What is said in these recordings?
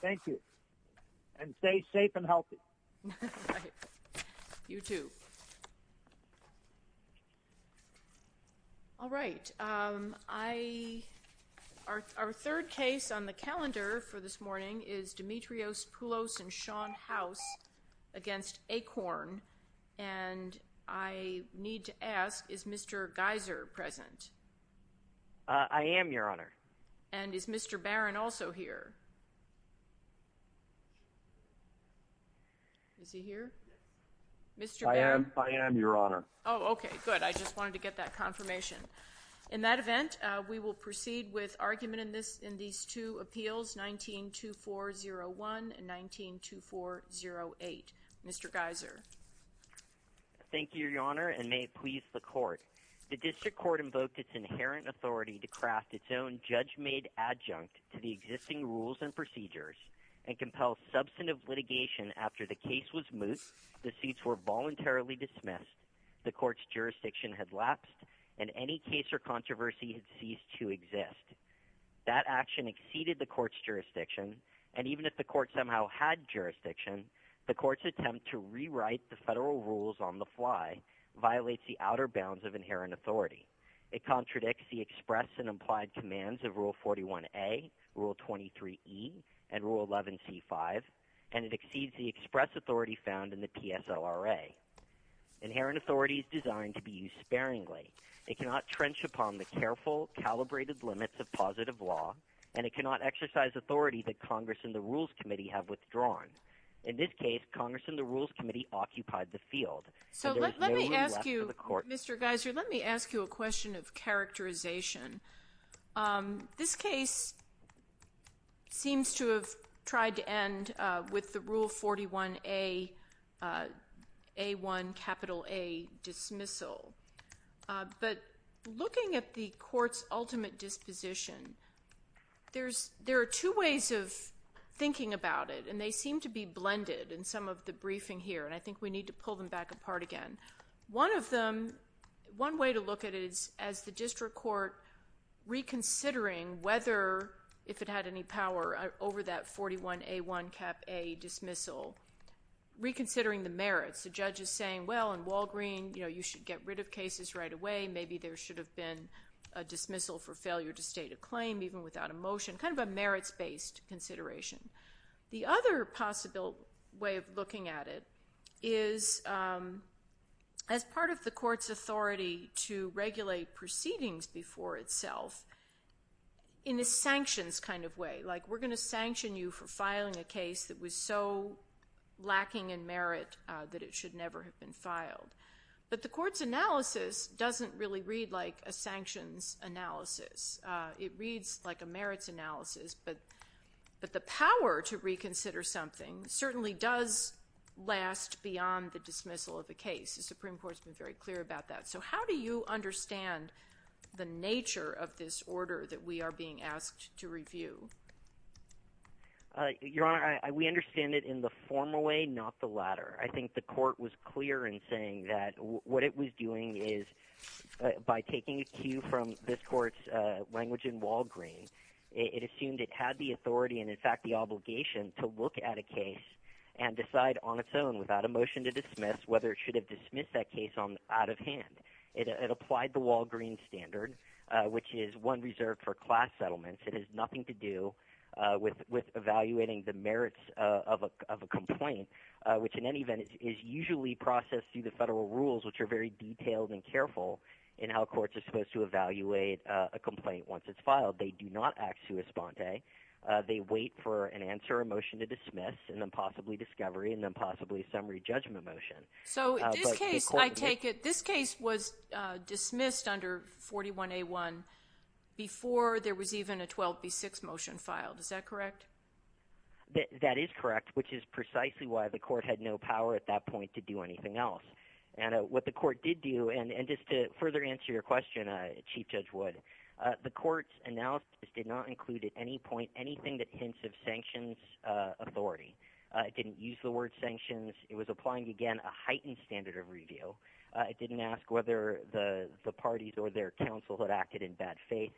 Thank you, and stay safe and healthy. You too. All right, our third case on the calendar for this morning is Demetrios Pullos v. Sean House v. Akorn, and I need to ask, is Mr. Geiser present? I am, Your Honor. And is Mr. Barron also here? I am, Your Honor. Oh, okay, good. I just wanted to get that confirmation. In that event, we will proceed with argument in these two appeals, 19-2401 and 19-2408. Mr. Geiser. Thank you, Your Honor, and may it please the Court. The District Court invoked its inherent authority to craft its own judge-made adjunct to the existing rules and procedures and compel substantive litigation after the case was moot, the suits were voluntarily dismissed, the Court's jurisdiction had lapsed, and any case or controversy had ceased to exist. That action exceeded the Court's jurisdiction, and even if the Court somehow had jurisdiction, the Court's attempt to rewrite the federal rules on the fly violates the outer bounds of inherent authority. It contradicts the express and implied commands of Rule 41A, Rule 23E, and Rule 11C5, and it exceeds the express authority found in the PSLRA. Inherent authority is designed to be used sparingly. It cannot trench upon the careful, calibrated limits of positive law, and it cannot exercise authority that Congress and the Rules Committee have withdrawn. In this case, Congress and the Rules Committee occupied the field, and there is no room left for the Court. So let me ask you, Mr. Geiser, let me ask you a question of characterization. This case seems to have tried to end with the Rule 41A, A1, capital A dismissal, but looking at the Court's ultimate disposition, there are two ways of thinking about it, and they seem to be blended in some of the briefing here, and I think we need to pull them back apart again. One of them, one way to look at it is as the district court reconsidering whether, if it had any power over that 41A1 cap A dismissal, reconsidering the merits. The judge is saying, well, in Walgreen, you know, you should get rid of cases right away. Maybe there should have been a dismissal for failure to state a claim, even without a motion, kind of a merits-based consideration. The other possible way of looking at it is, as part of the Court's authority to regulate proceedings before itself in a sanctions kind of way, like we're going to sanction you for filing a case that was so lacking in merit that it should never have been filed. But the Court's analysis doesn't really read like a but the power to reconsider something certainly does last beyond the dismissal of a case. The Supreme Court's been very clear about that. So how do you understand the nature of this order that we are being asked to review? Your Honor, we understand it in the formal way, not the latter. I think the Court was clear in saying that what it was doing is by taking a cue from this Court's language in Walgreen, it assumed it had the authority and, in fact, the obligation to look at a case and decide on its own, without a motion to dismiss, whether it should have dismissed that case out of hand. It applied the Walgreen standard, which is one reserved for class settlements. It has nothing to do with evaluating the merits of a complaint, which in any event is usually processed through the federal rules, which are very detailed and careful in how courts are supposed to evaluate a complaint once it's filed. They do not act sua sponte. They wait for an answer, a motion to dismiss, and then possibly discovery, and then possibly a summary judgment motion. So in this case, I take it this case was dismissed under 41A1 before there was even a 12B6 motion filed. Is that correct? That is correct, which is precisely why the Court had no power at that point to do anything else. And what the Court did do, and just to further answer your question, Chief Judge Wood, the Court's analysis did not include at any point anything that hints of sanctions authority. It didn't use the word sanctions. It was applying, again, a heightened standard of review. It didn't ask whether the parties or their counsel had acted in bad faith.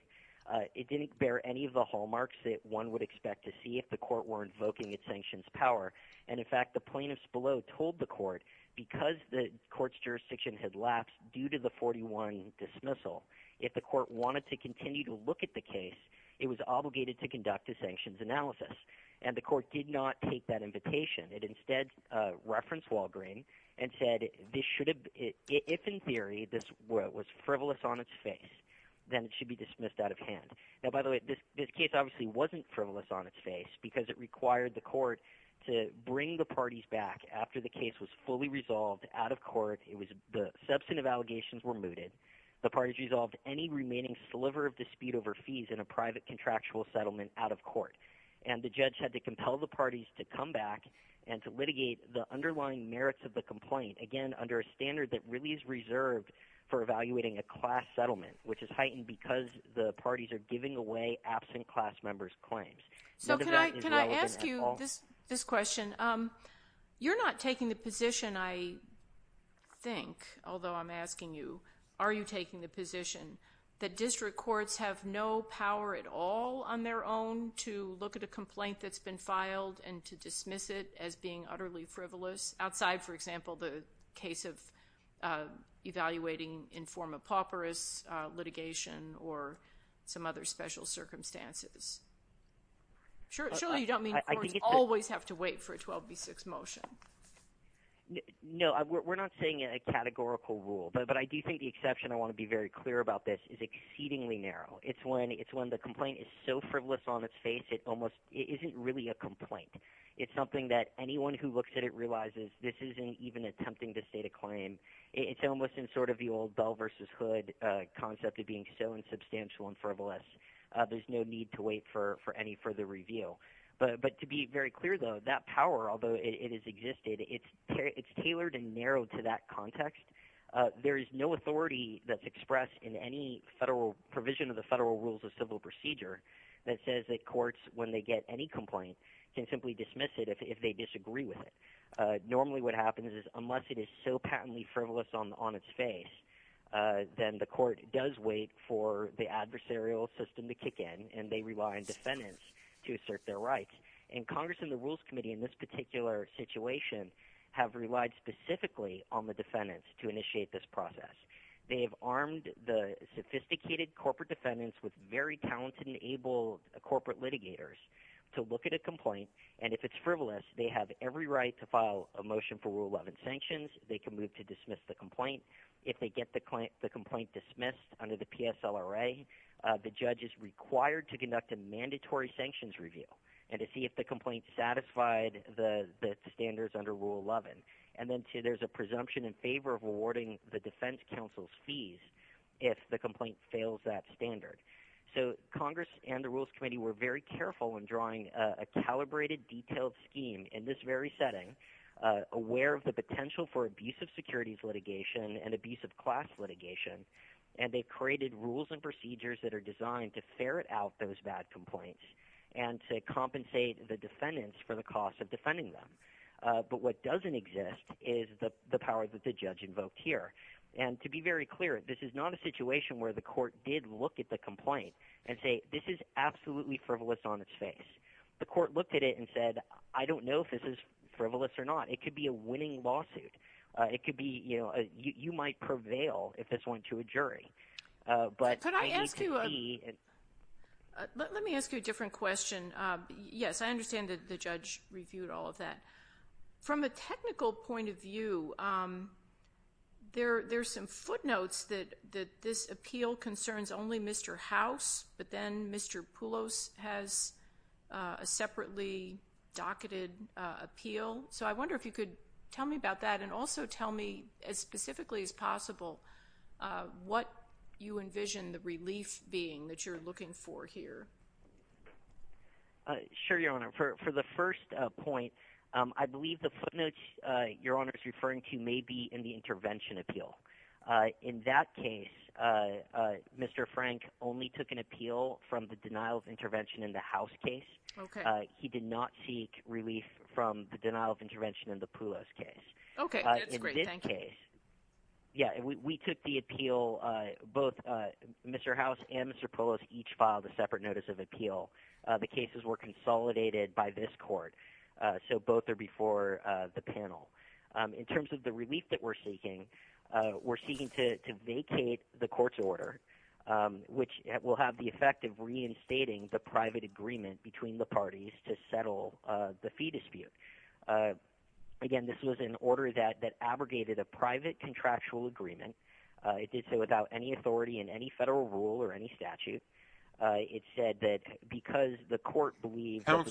It didn't bear any of the hallmarks that one would expect to see if the Court were invoking its sanctions power. And in fact, the plaintiffs below told the Court, because the Court's jurisdiction had lapsed due to the 41 dismissal, if the Court wanted to continue to look at the case, it was obligated to conduct a sanctions analysis. And the Court did not take that invitation. It instead referenced Walgreen and said, if in theory this was frivolous on its face, then it should be dismissed out of hand. Now, by the way, this case obviously wasn't frivolous on its face because it required the Court to bring the parties back after the case was fully resolved out of court. The substantive allegations were mooted. The parties resolved any remaining sliver of dispute over fees in a private contractual settlement out of court. And the judge had to compel the parties to come back and to litigate the underlying merits of the complaint, again, under a standard that really is reserved for evaluating a class settlement, which is heightened because the parties are giving away absent class members' claims. So can I ask you this question? You're not taking the position, I think, although I'm asking you, are you taking the position that district courts have no power at all on their own to look at a complaint that's been filed and to dismiss it as being utterly frivolous, outside, for example, the case of evaluating in form of pauperous litigation or some other special circumstances? Surely you don't mean courts always have to wait for a 12b6 motion. No, we're not saying a categorical rule, but I do think the exception, I want to be very clear about this, is exceedingly narrow. It's when the complaint is so frivolous on its face, it almost, it isn't really a complaint. It's something that anyone who looks at it realizes this isn't even attempting to state a claim. It's almost in sort of the old bell versus hood concept of being so insubstantial and frivolous, there's no need to wait for any further review. But to be very clear, though, that power, although it has existed, it's tailored and narrowed to that context. There is no authority that's expressed in any federal provision of the federal rules of civil procedure that says that courts, when they get any complaint, can simply dismiss it if they disagree with it. Normally what happens is unless it is so patently frivolous on its face, then the court does wait for the adversarial system to kick in, and they rely on defendants to assert their rights. And Congress and the Rules Committee in this particular situation have relied specifically on the defendants to initiate this process. They've armed the sophisticated corporate defendants with very talented and able corporate litigators to look at a complaint, and if it's frivolous, they have every right to file a motion for Rule 11 sanctions. They can move to dismiss the complaint. If they get the complaint dismissed under the PSLRA, the judge is required to conduct a mandatory sanctions review and to see if the complaint satisfied the standards under Rule 11. And then there's a presumption in favor of rewarding the defense counsel's fees if the complaint fails that standard. So Congress and calibrated, detailed scheme in this very setting, aware of the potential for abusive securities litigation and abusive class litigation, and they've created rules and procedures that are designed to ferret out those bad complaints and to compensate the defendants for the cost of defending them. But what doesn't exist is the power that the judge invoked here. And to be very clear, this is not a situation where the court did look at the complaint and say, this is absolutely frivolous on its face. The court looked at it and said, I don't know if this is frivolous or not. It could be a winning lawsuit. It could be, you know, you might prevail if this went to a jury. Let me ask you a different question. Yes, I understand that the judge reviewed all of that. From a technical point of view, there's some footnotes that this appeal concerns only Mr. House, but then Mr. Poulos has a separately docketed appeal. So I wonder if you could tell me about that and also tell me as specifically as possible what you envision the relief being that you're looking for here. Sure, Your Honor. For the first point, I believe the footnotes Your Honor is referring to may be in the intervention appeal. In that case, Mr. Frank only took an appeal from the denial of intervention in the House case. He did not seek relief from the denial of intervention in the Poulos case. In this case, we took the appeal, both Mr. House and Mr. Poulos each filed a separate notice of appeal. The cases were consolidated by this court. So both are before the panel. In terms of the relief that we're seeking, we're seeking to vacate the court's order, which will have the effect of reinstating the private agreement between the parties to settle the fee dispute. Again, this was an order that abrogated a private contractual agreement. It did so without any authority in any federal rule or any statute. It said that because the federal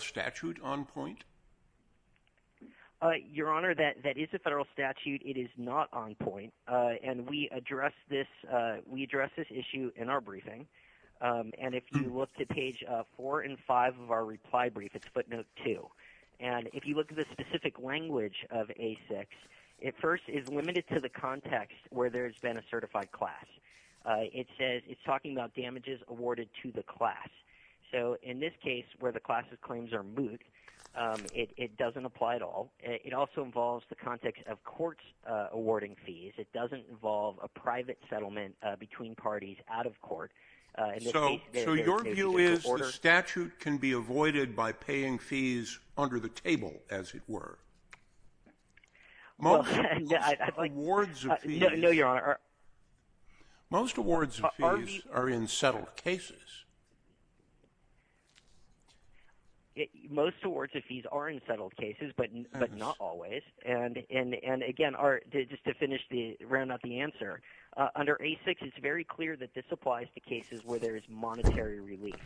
statute on point? Your Honor, that is a federal statute. It is not on point. We addressed this issue in our briefing. If you look to page four and five of our reply brief, it's footnote two. If you look at the specific language of A6, it first is limited to the context where there's been a certified class. It says it's talking about damages awarded to the class. So in this case, where the class's claims are moot, it doesn't apply at all. It also involves the context of courts awarding fees. It doesn't involve a private settlement between parties out of court. So your view is the statute can be avoided by paying fees under the table, as it were. Most awards of fees are in settled cases. But not always. And again, just to finish the answer, under A6, it's very clear that this applies to cases where there's monetary relief.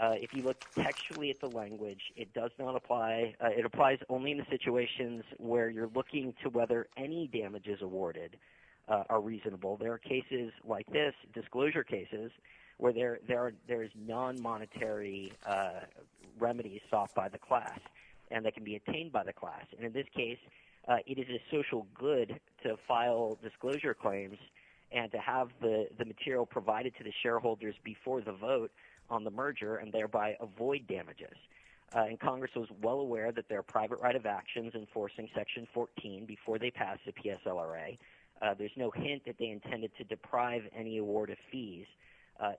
If you look textually at the language, it does not apply. It applies only in the situations where you're looking to whether any damages awarded are reasonable. There are cases like this, disclosure cases, where there are damages there's non-monetary remedies sought by the class and that can be obtained by the class. And in this case, it is a social good to file disclosure claims and to have the material provided to the shareholders before the vote on the merger and thereby avoid damages. And Congress was well aware that their private right of actions enforcing section 14 before they passed the PSLRA, there's no hint that they intended to deprive any award of fees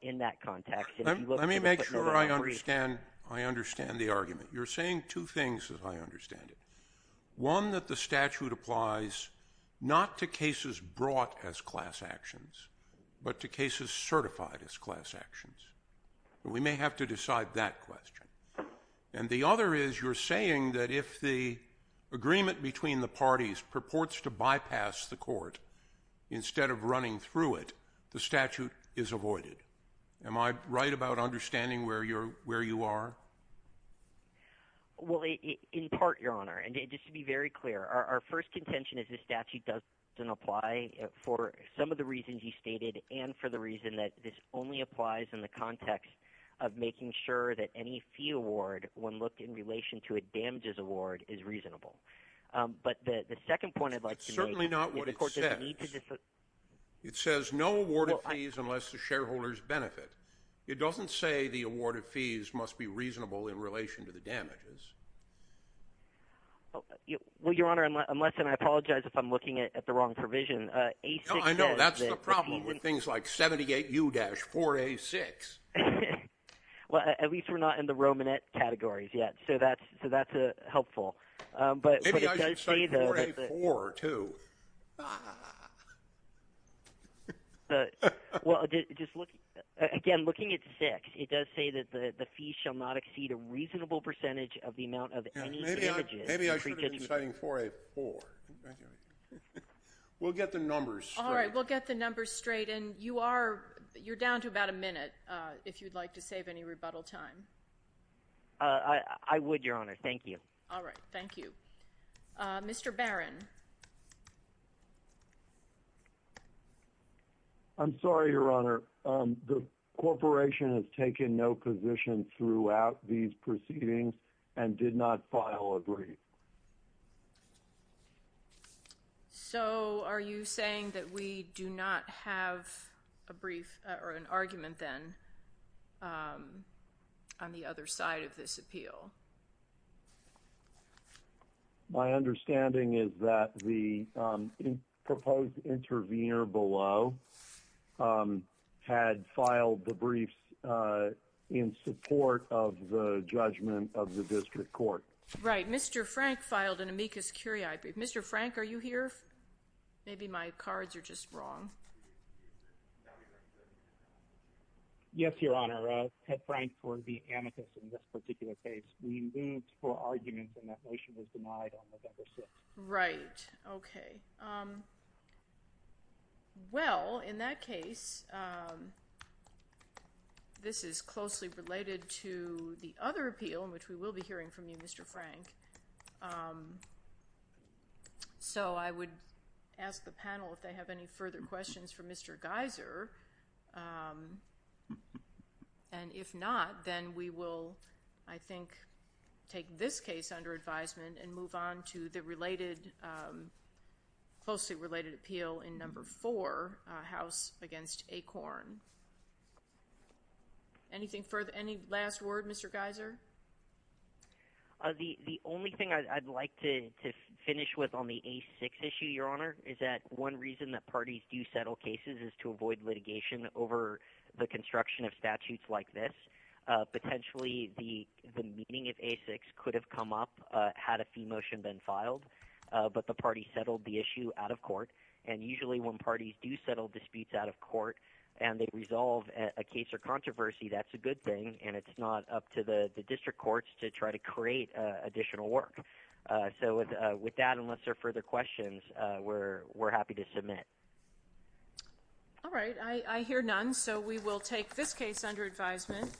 in that context. Let me make sure I understand. I understand the argument. You're saying two things as I understand it. One, that the statute applies not to cases brought as class actions, but to cases certified as class actions. We may have to decide that question. And the other is you're saying that if the agreement between the parties purports to bypass the court instead of running through it, the statute is avoided. Am I right about understanding where you are? Well, in part, Your Honor, and just to be very clear, our first contention is the statute doesn't apply for some of the reasons you stated and for the reason that this only applies in the context of making sure that any fee award, when looked in relation to a damages award, is reasonable. But the second point I'd like to make... That's certainly not what it says. It says no award of fees unless the shareholders benefit. It doesn't say the award of fees must be reasonable in relation to the damages. Well, Your Honor, unless, and I apologize if I'm looking at the wrong provision. I know, that's the problem with things like 78U-4A6. Well, at least we're not in the Romanette categories yet, so that's helpful. But it does say that... Maybe I should have cited 4A-4, too. Well, again, looking at 6, it does say that the fees shall not exceed a reasonable percentage of the amount of any damages... Maybe I should have been citing 4A-4. We'll get the numbers straight. All right, we'll get the numbers straight. And you're down to about a minute, if you'd like to save any rebuttal time. I would, Your Honor. Thank you. All right. Thank you. Mr. Barron. I'm sorry, Your Honor. The corporation has taken no positions throughout these proceedings and did not file a brief. So, are you saying that we do not have a brief or an argument, then, on the other side of this appeal? My understanding is that the proposed intervener below had filed the brief in support of the judgment of the district court. Right. Mr. Frank filed an amicus curiae brief. Mr. Frank, are you here? Maybe my cards are just wrong. Yes, Your Honor. Ted Frank for the amicus in this particular case. We moved for argument, and that motion was denied on November 6th. Right. Okay. Well, in that case, this is closely related to the other appeal, which we will be hearing from you, Mr. Frank. So, I would ask the panel if they have any further questions for Mr. Geiser. And if not, then we will, I think, take this case under advisement and move on to the related, closely related appeal in number four, House against Acorn. Anything further? Any last word, Mr. Geiser? The only thing I'd like to finish with on the A6 issue, Your Honor, is that one reason that parties do settle cases is to avoid litigation over the construction of statutes like this. Potentially, the meeting of A6 could have come up had a fee motion been filed, but the party settled the issue out of court. And usually, when parties do settle disputes out of court and they resolve a case or controversy, that's a good thing, and it's not up to the courts to try to create additional work. So, with that, unless there are further questions, we're happy to submit. All right. I hear none, so we will take this case under advisement.